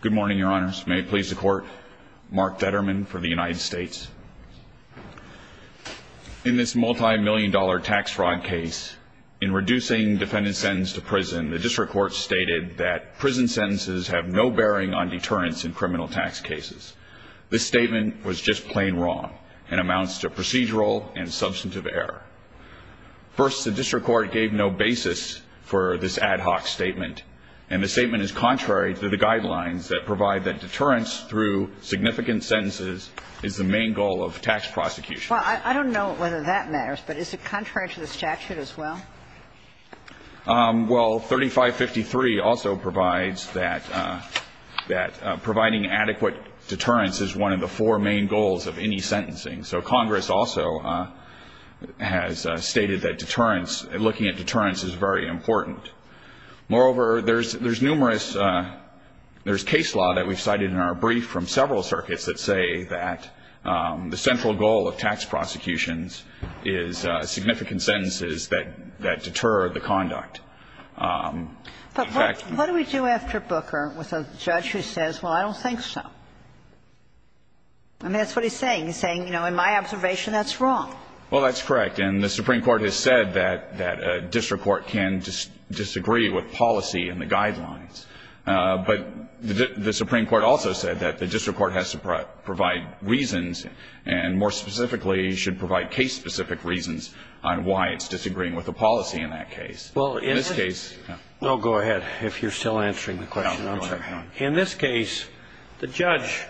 Good morning, Your Honors. May it please the Court, Mark Vetterman for the United States. In this multi-million dollar tax fraud case, in reducing defendant's sentence to prison, the District Court stated that prison sentences have no bearing on deterrence in criminal tax cases. This statement was just plain wrong and amounts to procedural and substantive error. First, the District Court gave no basis for this ad hoc statement, and the statement is contrary to the guidelines that provide that deterrence through significant sentences is the main goal of tax prosecution. Well, I don't know whether that matters, but is it contrary to the statute as well? Well, 3553 also provides that providing adequate deterrence is one of the four main goals of any sentencing. So Congress also has stated that deterrence, looking at deterrence, is very important. Moreover, there's numerous – there's case law that we've cited in our brief from several circuits that say that the central goal of tax prosecutions is significant sentences that deter the conduct. In fact – But what do we do after Booker with a judge who says, well, I don't think so? I mean, that's what he's saying. He's saying, you know, in my observation, that's wrong. Well, that's correct. And the Supreme Court has said that a district court can disagree with policy and the guidelines. But the Supreme Court also said that the district court has to provide reasons and, more specifically, should provide case-specific reasons on why it's disagreeing with the policy in that case. Well, in this case – No, go ahead, if you're still answering the question. No, go ahead. In this case, the judge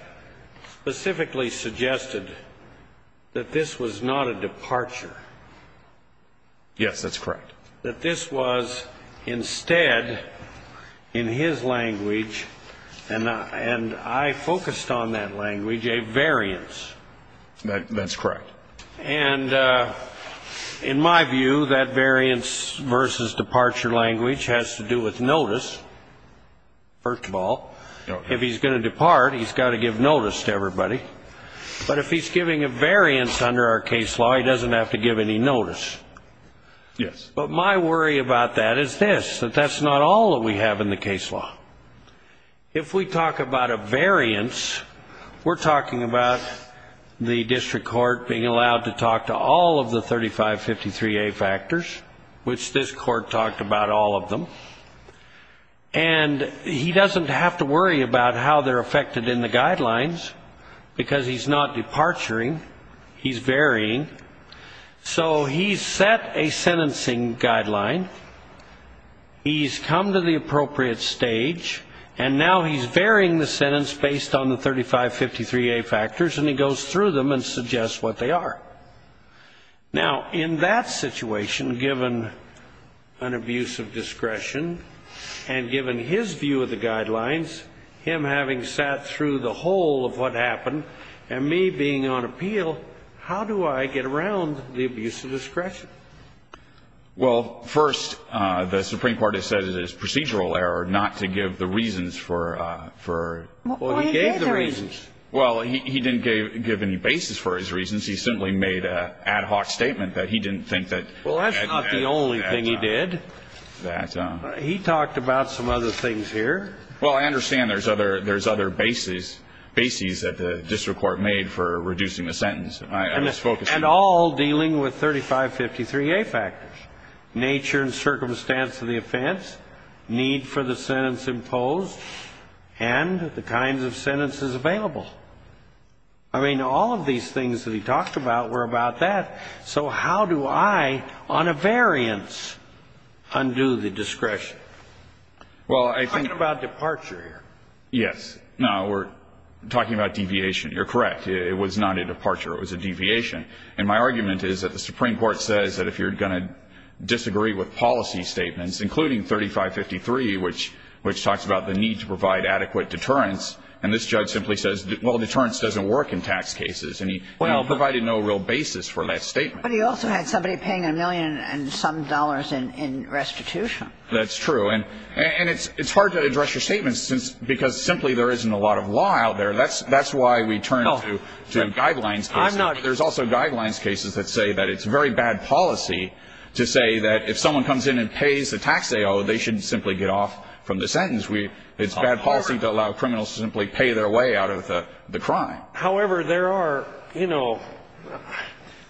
specifically suggested that this was not a departure. Yes, that's correct. That this was instead, in his language, and I focused on that language, a variance. That's correct. And in my view, that variance versus departure language has to do with notice, first of all. If he's going to depart, he's got to give notice to everybody. But if he's giving a variance under our case law, he doesn't have to give any notice. Yes. But my worry about that is this, that that's not all that we have in the case law. If we talk about a variance, we're talking about the district court being allowed to talk to all of the 3553A factors, which this court talked about all of them. And he doesn't have to worry about how they're affected in the guidelines because he's not departuring. He's varying. So he's set a sentencing guideline. He's come to the appropriate stage. And now he's varying the sentence based on the 3553A factors, and he goes through them and suggests what they are. Now, in that situation, given an abuse of discretion and given his view of the guidelines, him having sat through the whole of what happened and me being on appeal, how do I get around the abuse of discretion? Well, first, the Supreme Court has said it is procedural error not to give the reasons for... Well, he gave the reasons. Well, he didn't give any basis for his reasons. He simply made an ad hoc statement that he didn't think that... Well, that's not the only thing he did. That... He talked about some other things here. Well, I understand there's other bases that the district court made for reducing the sentence. And all dealing with 3553A factors, nature and circumstance of the offense, need for the sentence imposed, and the kinds of sentences available. I mean, all of these things that he talked about were about that. So how do I, on a variance, undo the discretion? I'm talking about departure here. Yes. No, we're talking about deviation. You're correct. It was not a departure. It was a deviation. And my argument is that the Supreme Court says that if you're going to disagree with policy statements, including 3553, which talks about the need to provide adequate deterrence, and this judge simply says, well, deterrence doesn't work in tax cases, and he provided no real basis for that statement. But he also had somebody paying a million and some dollars in restitution. That's true. And it's hard to address your statement because simply there isn't a lot of law out there. That's why we turn to guidelines cases. There's also guidelines cases that say that it's very bad policy to say that if someone comes in and pays the tax they owe, they shouldn't simply get off from the sentence. It's bad policy to allow criminals to simply pay their way out of the crime. However, there are, you know,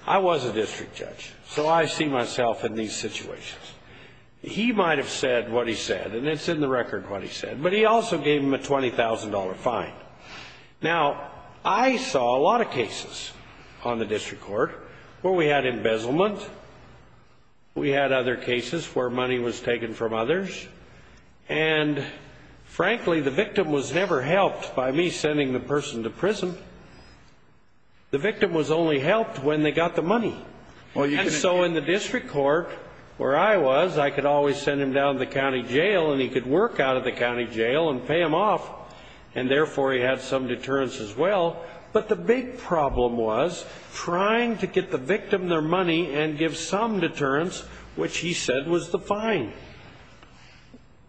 I was a district judge, so I see myself in these situations. He might have said what he said, and it's in the record what he said, but he also gave him a $20,000 fine. Now, I saw a lot of cases on the district court where we had embezzlement. We had other cases where money was taken from others. And, frankly, the victim was never helped by me sending the person to prison. The victim was only helped when they got the money. And so in the district court where I was, I could always send him down to the county jail and he could work out of the county jail and pay them off, and therefore he had some deterrence as well. But the big problem was trying to get the victim their money and give some deterrence, which he said was the fine.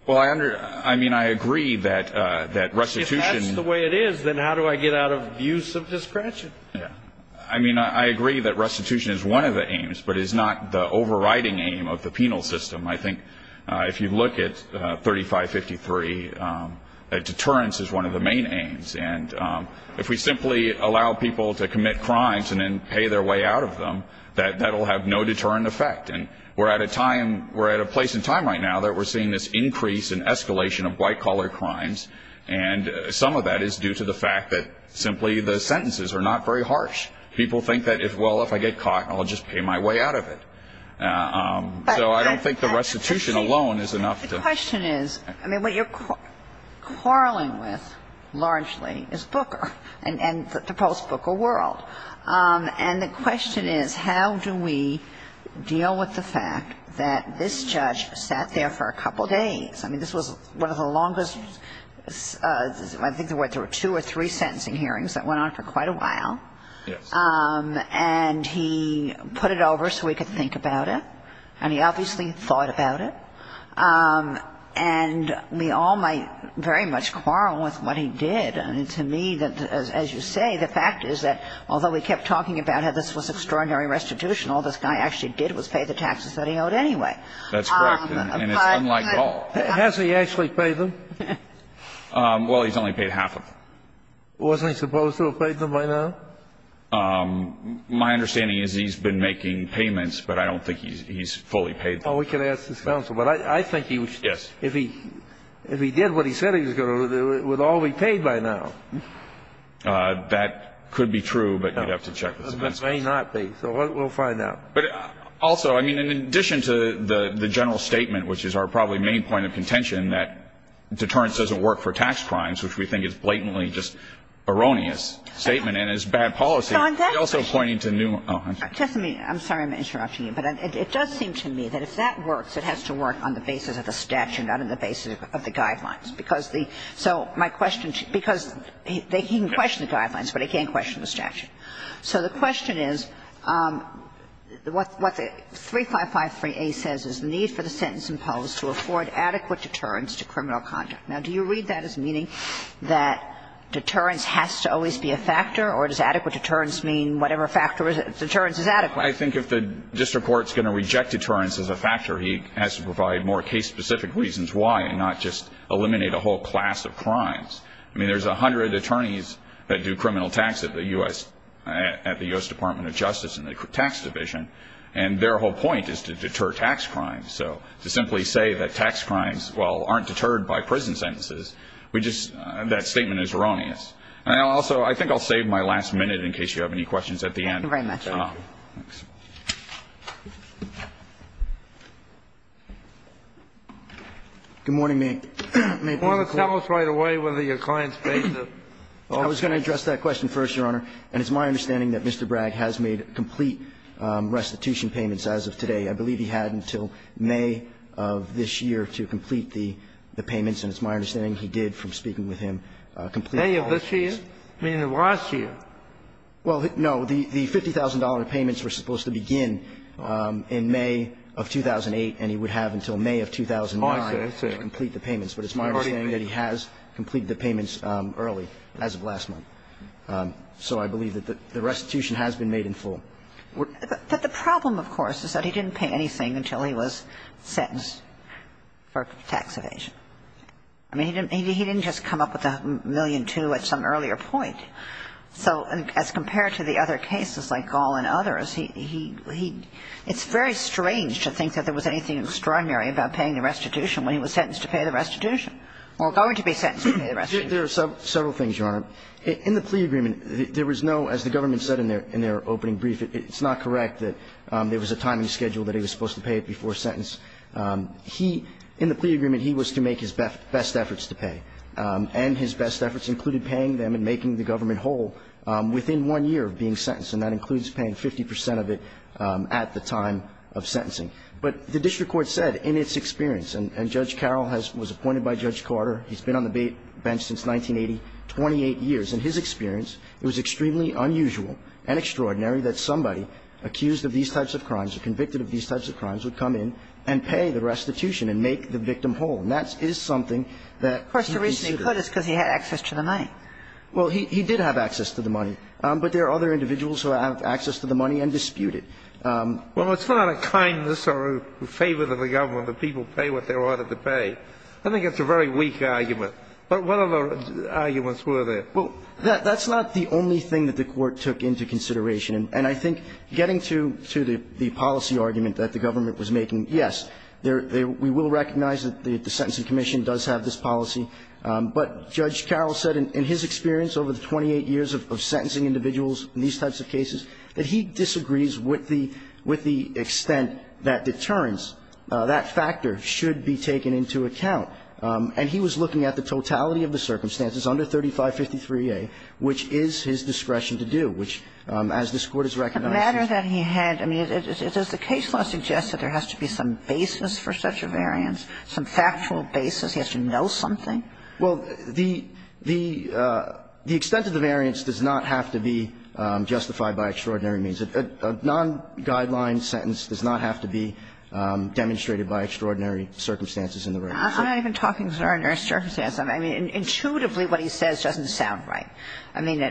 Well, I mean, I agree that restitution. If that's the way it is, then how do I get out of abuse of discretion? I mean, I agree that restitution is one of the aims, but it's not the overriding aim of the penal system. I think if you look at 3553, deterrence is one of the main aims. And if we simply allow people to commit crimes and then pay their way out of them, that will have no deterrent effect. And we're at a place in time right now that we're seeing this increase in escalation of white-collar crimes, and some of that is due to the fact that simply the sentences are not very harsh. People think that, well, if I get caught, I'll just pay my way out of it. So I don't think the restitution alone is enough. The question is, I mean, what you're quarreling with largely is Booker and the post-Booker world. And the question is how do we deal with the fact that this judge sat there for a couple days. I mean, this was one of the longest, I think there were two or three sentencing hearings that went on for quite a while. Yes. And he put it over so we could think about it. And he obviously thought about it. And we all might very much quarrel with what he did. I mean, to me, as you say, the fact is that although we kept talking about how this was extraordinary restitution, all this guy actually did was pay the taxes that he owed anyway. That's correct. And it's unlike all. Has he actually paid them? Well, he's only paid half of them. Was he supposed to have paid them by now? My understanding is he's been making payments, but I don't think he's fully paid them. Oh, we can ask his counsel. But I think he was. Yes. If he did what he said he was going to do, it would all be paid by now. That could be true, but you'd have to check with his counsel. It may not be. So we'll find out. But also, I mean, in addition to the general statement, which is our probably main point of contention, that deterrence doesn't work for tax crimes, which we think is blatantly just erroneous statement and is bad policy. It's also pointing to new ones. Just a minute. I'm sorry I'm interrupting you, but it does seem to me that if that works, it has to work on the basis of the statute, not on the basis of the guidelines. Because the so my question, because he can question the guidelines, but he can't question the statute. So the question is what the 3553A says is the need for the sentence imposed to afford adequate deterrence to criminal conduct. Now, do you read that as meaning that deterrence has to always be a factor, or does adequate deterrence mean whatever factor deterrence is adequate? I think if the district court is going to reject deterrence as a factor, he has to provide more case-specific reasons why and not just eliminate a whole class of crimes. I mean, there's a hundred attorneys that do criminal tax at the U.S. Department of Justice and the tax division, and their whole point is to deter tax crimes. So to simply say that tax crimes, well, aren't deterred by prison sentences, we just that statement is erroneous. And also, I think I'll save my last minute in case you have any questions at the end. Thank you very much. Thank you. Good morning, Mayor Kagan. I want to tell us right away whether your client's basis. I was going to address that question first, Your Honor, and it's my understanding that Mr. Bragg has made complete restitution payments as of today. I believe he had until May of this year to complete the payments, and it's my understanding he did, from speaking with him, complete the payments. May of this year? Meaning of last year? Well, no. The $50,000 payments were supposed to begin in May of 2008, and he would have until May of 2009 to complete the payments. But it's my understanding that he has completed the payments early, as of last month. So I believe that the restitution has been made in full. But the problem, of course, is that he didn't pay anything until he was sentenced for tax evasion. I mean, he didn't just come up with a million two at some earlier point. So as compared to the other cases like Gall and others, he – it's very strange to think that there was anything extraordinary about paying the restitution when he was sentenced to pay the restitution, or going to be sentenced to pay the restitution. There are several things, Your Honor. In the plea agreement, there was no – as the government said in their opening brief, it's not correct that there was a timing schedule that he was supposed to pay before sentence. He – in the plea agreement, he was to make his best efforts to pay. And his best efforts included paying them and making the government whole within one year of being sentenced. And that includes paying 50 percent of it at the time of sentencing. But the district court said in its experience – and Judge Carroll has – was appointed by Judge Carter. He's been on the bench since 1980, 28 years. In his experience, it was extremely unusual and extraordinary that somebody accused of these types of crimes or convicted of these types of crimes would come in and pay the restitution and make the victim whole. And that is something that he considered. Of course, the reason he could is because he had access to the money. Well, he did have access to the money. But there are other individuals who have access to the money and dispute it. Well, it's not a kindness or a favor to the government that people pay what they are ordered to pay. I think it's a very weak argument. But what other arguments were there? Well, that's not the only thing that the court took into consideration. And I think getting to the policy argument that the government was making, yes, we will recognize that the Sentencing Commission does have this policy. But Judge Carroll said in his experience over the 28 years of sentencing individuals in these types of cases that he disagrees with the extent that deterrence, that factor should be taken into account. And he was looking at the totality of the circumstances under 3553A, which is his discretion to do, which as this Court has recognized. The matter that he had, I mean, does the case law suggest that there has to be some basis for such a variance, some factual basis, he has to know something? Well, the extent of the variance does not have to be justified by extraordinary means. A non-guideline sentence does not have to be demonstrated by extraordinary circumstances in the record. I'm not even talking extraordinary circumstances. I mean, intuitively what he says doesn't sound right. I mean,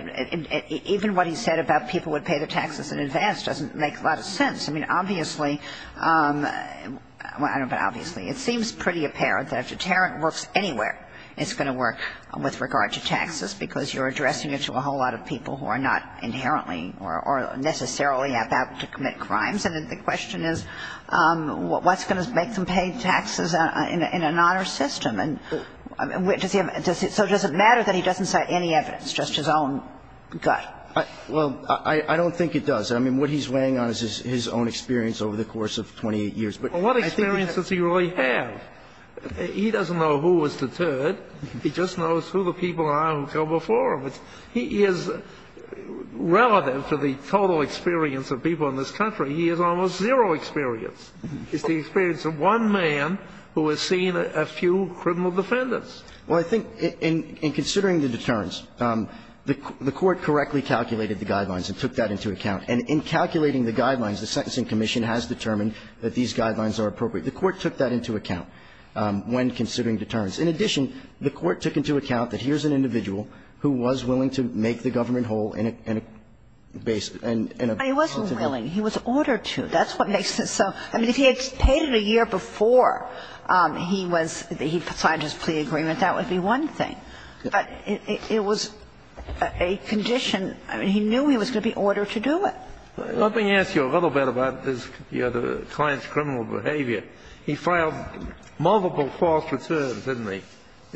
even what he said about people would pay the taxes in advance doesn't make a lot of sense. I mean, obviously, well, I don't know about obviously, it seems pretty apparent that if deterrent works anywhere, it's going to work with regard to taxes, because you're addressing it to a whole lot of people who are not inherently or necessarily about to commit crimes. And the question is, what's going to make them pay taxes in an honor system? So does it matter that he doesn't cite any evidence, just his own gut? Well, I don't think it does. I mean, what he's weighing on is his own experience over the course of 28 years. But I think he has to. Well, what experiences does he really have? He doesn't know who was deterred. He just knows who the people are who go before him. He is relative to the total experience of people in this country. He has almost zero experience. It's the experience of one man who has seen a few criminal defendants. Well, I think in considering the deterrents, the Court correctly calculated the guidelines and took that into account. And in calculating the guidelines, the Sentencing Commission has determined that these guidelines are appropriate. The Court took that into account when considering deterrents. In addition, the Court took into account that here's an individual who was willing to make the government whole in a basis and a substantive way. But he wasn't willing. He was ordered to. That's what makes it so. I mean, if he had paid it a year before he was he signed his plea agreement, that would be one thing. But it was a condition. I mean, he knew he was going to be ordered to do it. Let me ask you a little bit about this, you know, the client's criminal behavior. He filed multiple false returns, didn't he,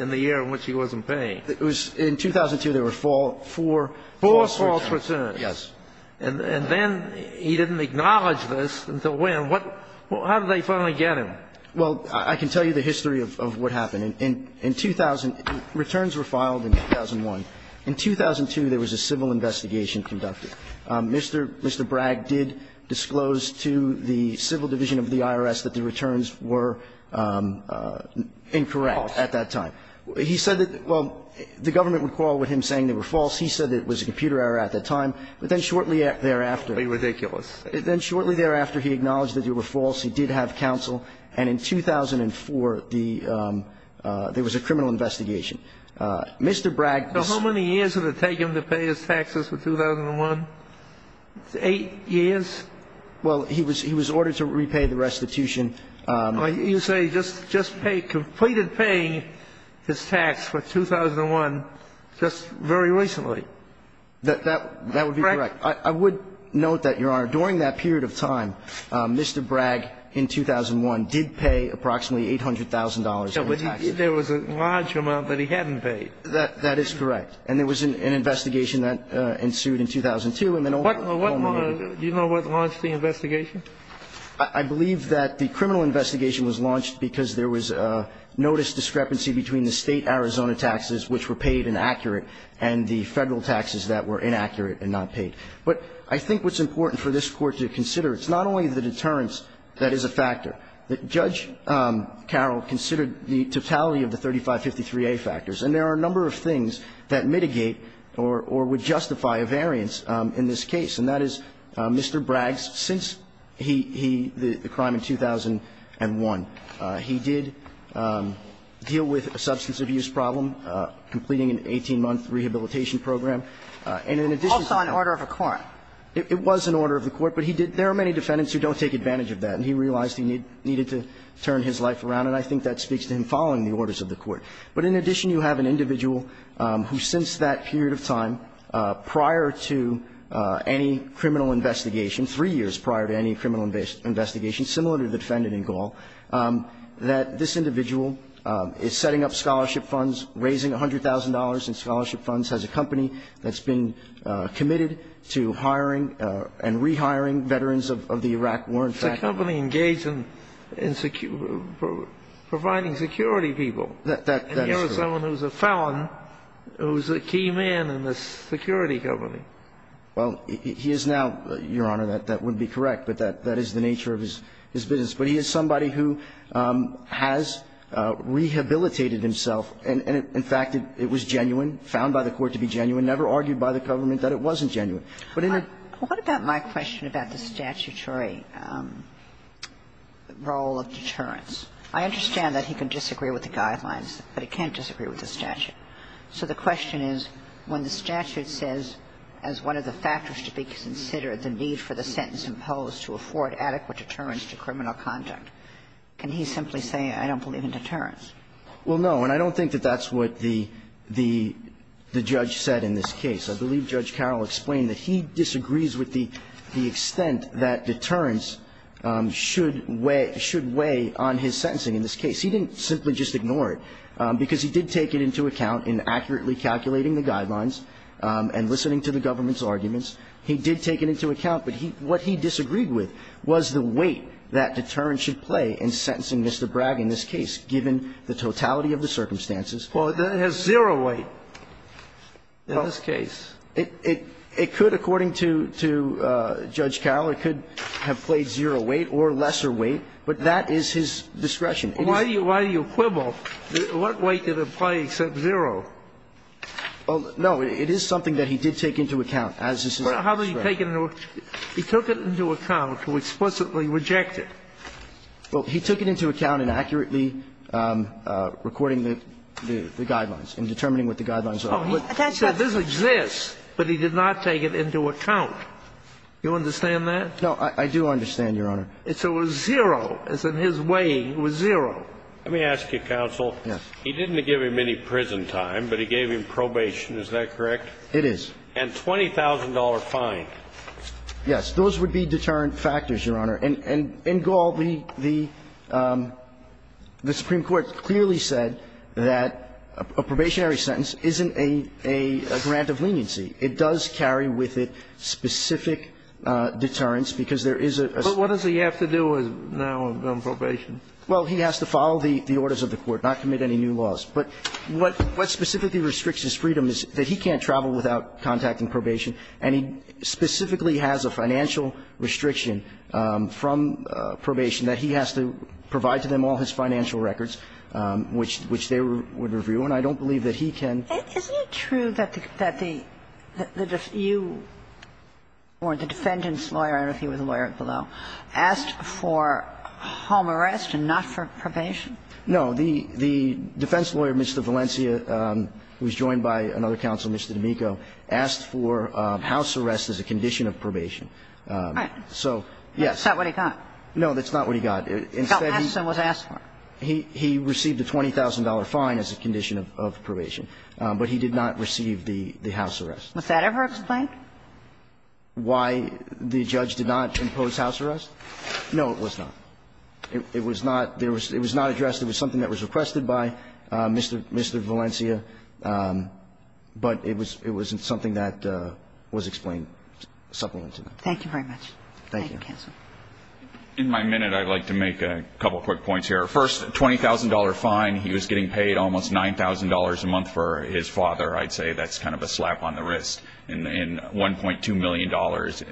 in the year in which he wasn't paying? It was in 2002, there were four. Four false returns. Yes. And then he didn't acknowledge this until when. How did they finally get him? Well, I can tell you the history of what happened. In 2000, returns were filed in 2001. In 2002, there was a civil investigation conducted. Mr. Bragg did disclose to the civil division of the IRS that the returns were incorrect at that time. False. He said that the government would quarrel with him saying they were false. He said it was a computer error at that time. But then shortly thereafter. Ridiculous. Then shortly thereafter, he acknowledged that they were false. He did have counsel. And in 2004, there was a criminal investigation. Mr. Bragg. So how many years did it take him to pay his taxes for 2001? Eight years? Well, he was ordered to repay the restitution. You say he just paid, completed paying his tax for 2001 just very recently. That would be correct. I would note that, Your Honor, during that period of time, Mr. Bragg in 2001 did pay approximately $800,000 in taxes. There was a large amount that he hadn't paid. That is correct. And there was an investigation that ensued in 2002. Do you know what launched the investigation? I believe that the criminal investigation was launched because there was a notice discrepancy between the state Arizona taxes, which were paid and accurate, and the Federal taxes that were inaccurate and not paid. But I think what's important for this Court to consider, it's not only the deterrence that is a factor. Judge Carroll considered the totality of the 3553A factors. And there are a number of things that mitigate or would justify a variance in this case, and that is Mr. Bragg's, since he, the crime in 2001, he did deal with a substance abuse problem, completing an 18-month rehabilitation program. And in addition to that. Also an order of the court. It was an order of the court, but he did. There are many defendants who don't take advantage of that, and he realized he needed to turn his life around, and I think that speaks to him following the orders of the court. But in addition, you have an individual who since that period of time, prior to any criminal investigation, three years prior to any criminal investigation, similar to the defendant in Gall, that this individual is setting up scholarship funds, raising $100,000 in scholarship funds, has a company that's been committed to hiring and rehiring veterans of the Iraq war. In fact. The company engaged in providing security people. That's true. And here is someone who's a felon who's a key man in the security company. Well, he is now, Your Honor, that would be correct, but that is the nature of his business. But he is somebody who has rehabilitated himself, and in fact, it was genuine, found by the court to be genuine, never argued by the government that it wasn't What about my question about the statutory role of deterrence? I understand that he can disagree with the guidelines, but he can't disagree with the statute. So the question is, when the statute says as one of the factors to be considered the need for the sentence imposed to afford adequate deterrence to criminal conduct, can he simply say I don't believe in deterrence? Well, no, and I don't think that that's what the judge said in this case. I believe Judge Carroll explained that he disagrees with the extent that deterrence should weigh on his sentencing in this case. He didn't simply just ignore it, because he did take it into account in accurately calculating the guidelines and listening to the government's arguments. He did take it into account, but what he disagreed with was the weight that deterrence should play in sentencing Mr. Bragg in this case, given the totality of the circumstances. Well, it has zero weight in this case. It could, according to Judge Carroll, it could have played zero weight or lesser weight, but that is his discretion. Why do you quibble? What weight did it play except zero? Well, no, it is something that he did take into account, as is his discretion. How did he take it into account? He took it into account to explicitly reject it. Well, he took it into account in accurately recording the guidelines and determining what the guidelines are. He said this exists, but he did not take it into account. Do you understand that? No. I do understand, Your Honor. So it was zero. As in his weighing, it was zero. Let me ask you, counsel. Yes. He didn't give him any prison time, but he gave him probation. Is that correct? It is. And $20,000 fine. Yes. Those would be deterrent factors, Your Honor. And in Gaul, the Supreme Court clearly said that a probationary sentence isn't a grant of leniency. It does carry with it specific deterrents, because there is a sort of... But what does he have to do now on probation? Well, he has to follow the orders of the Court, not commit any new laws. But what specifically restricts his freedom is that he can't travel without contacting probation. And he specifically has a financial restriction from probation that he has to provide to them all his financial records, which they would review. And I don't believe that he can... Isn't it true that you or the defendant's lawyer, I don't know if he was a lawyer below, asked for home arrest and not for probation? No. The defense lawyer, Mr. Valencia, who was joined by another counsel, Mr. D'Amico, asked for house arrest as a condition of probation. All right. So, yes. That's not what he got. No, that's not what he got. He got asked and was asked for. He received a $20,000 fine as a condition of probation, but he did not receive the house arrest. Was that ever explained? Why the judge did not impose house arrest? No, it was not. It was not addressed. It was something that was requested by Mr. Valencia. But it was something that was explained. Thank you very much. Thank you. Thank you, counsel. In my minute, I'd like to make a couple quick points here. First, $20,000 fine. He was getting paid almost $9,000 a month for his father. I'd say that's kind of a slap on the wrist. And $1.2 million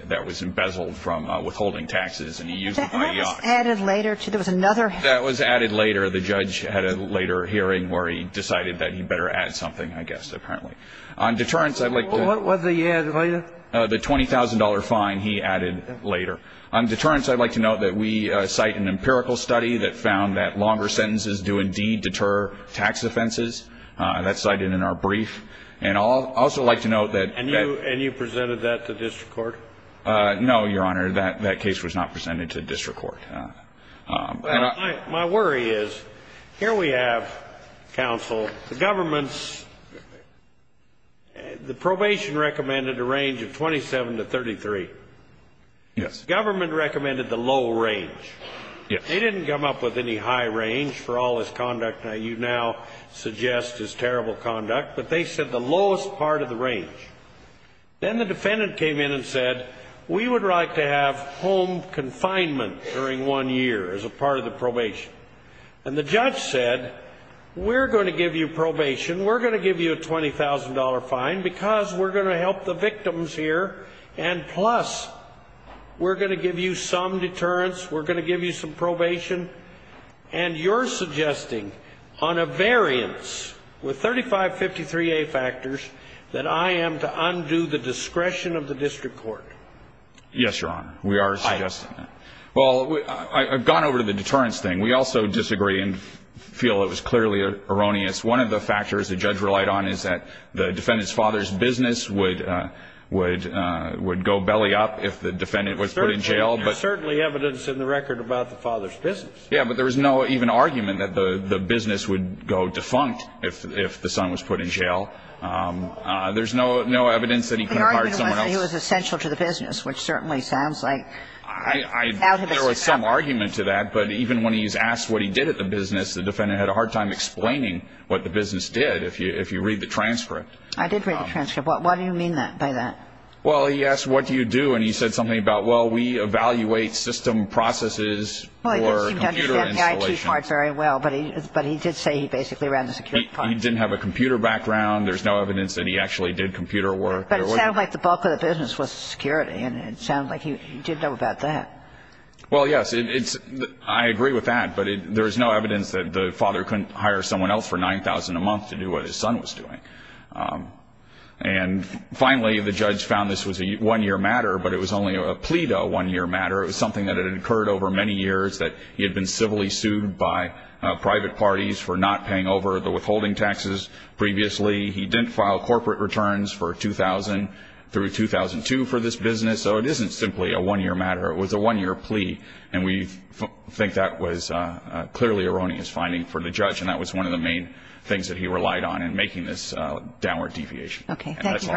that was embezzled from withholding taxes. And he used it by the office. That was added later. There was another... That was added later. The judge had a later hearing where he decided that he better add something, I guess, apparently. On deterrence, I'd like to... What was he added later? The $20,000 fine he added later. On deterrence, I'd like to note that we cite an empirical study that found that longer sentences do indeed deter tax offenses. That's cited in our brief. And I'd also like to note that... And you presented that to district court? No, Your Honor. That case was not presented to district court. My worry is, here we have, counsel, the government's... The probation recommended a range of 27 to 33. Yes. Government recommended the low range. Yes. They didn't come up with any high range for all this conduct that you now suggest is terrible conduct. But they said the lowest part of the range. Then the defendant came in and said, we would like to have home confinement during one year as a part of the probation. And the judge said, we're going to give you probation. We're going to give you a $20,000 fine because we're going to help the victims here. And plus, we're going to give you some deterrence. We're going to give you some probation. And you're suggesting, on a variance with 3553A factors, that I am to undo the discretion of the district court. Yes, Your Honor. We are suggesting that. Well, I've gone over to the deterrence thing. We also disagree and feel it was clearly erroneous. One of the factors the judge relied on is that the defendant's father's business would go belly up if the defendant was put in jail. There's certainly evidence in the record about the father's business. Yeah, but there was no even argument that the business would go defunct if the son was put in jail. There's no evidence that he could have hired someone else. The argument was that he was essential to the business, which certainly sounds like out of this account. There was some argument to that, but even when he's asked what he did at the business, the defendant had a hard time explaining what the business did, if you read the transcript. I did read the transcript. What do you mean by that? Well, he asked what do you do, and he said something about, well, we evaluate system processes for computer installation. Well, he didn't seem to understand the IT part very well, but he did say he basically ran the security part. He didn't have a computer background. There's no evidence that he actually did computer work. But it sounded like the bulk of the business was security, and it sounded like he did know about that. Well, yes, I agree with that, but there is no evidence that the father couldn't hire someone else for $9,000 a month to do what his son was doing. And finally, the judge found this was a one-year matter, but it was only a plea to a one-year matter. It was something that had occurred over many years, that he had been civilly sued by private parties for not paying over the withholding taxes previously. He didn't file corporate returns for 2000 through 2002 for this business, so it isn't simply a one-year matter. It was a one-year plea, and we think that was a clearly erroneous finding for the judge, and that was one of the main things that he relied on in making this downward deviation. Okay, thank you very much.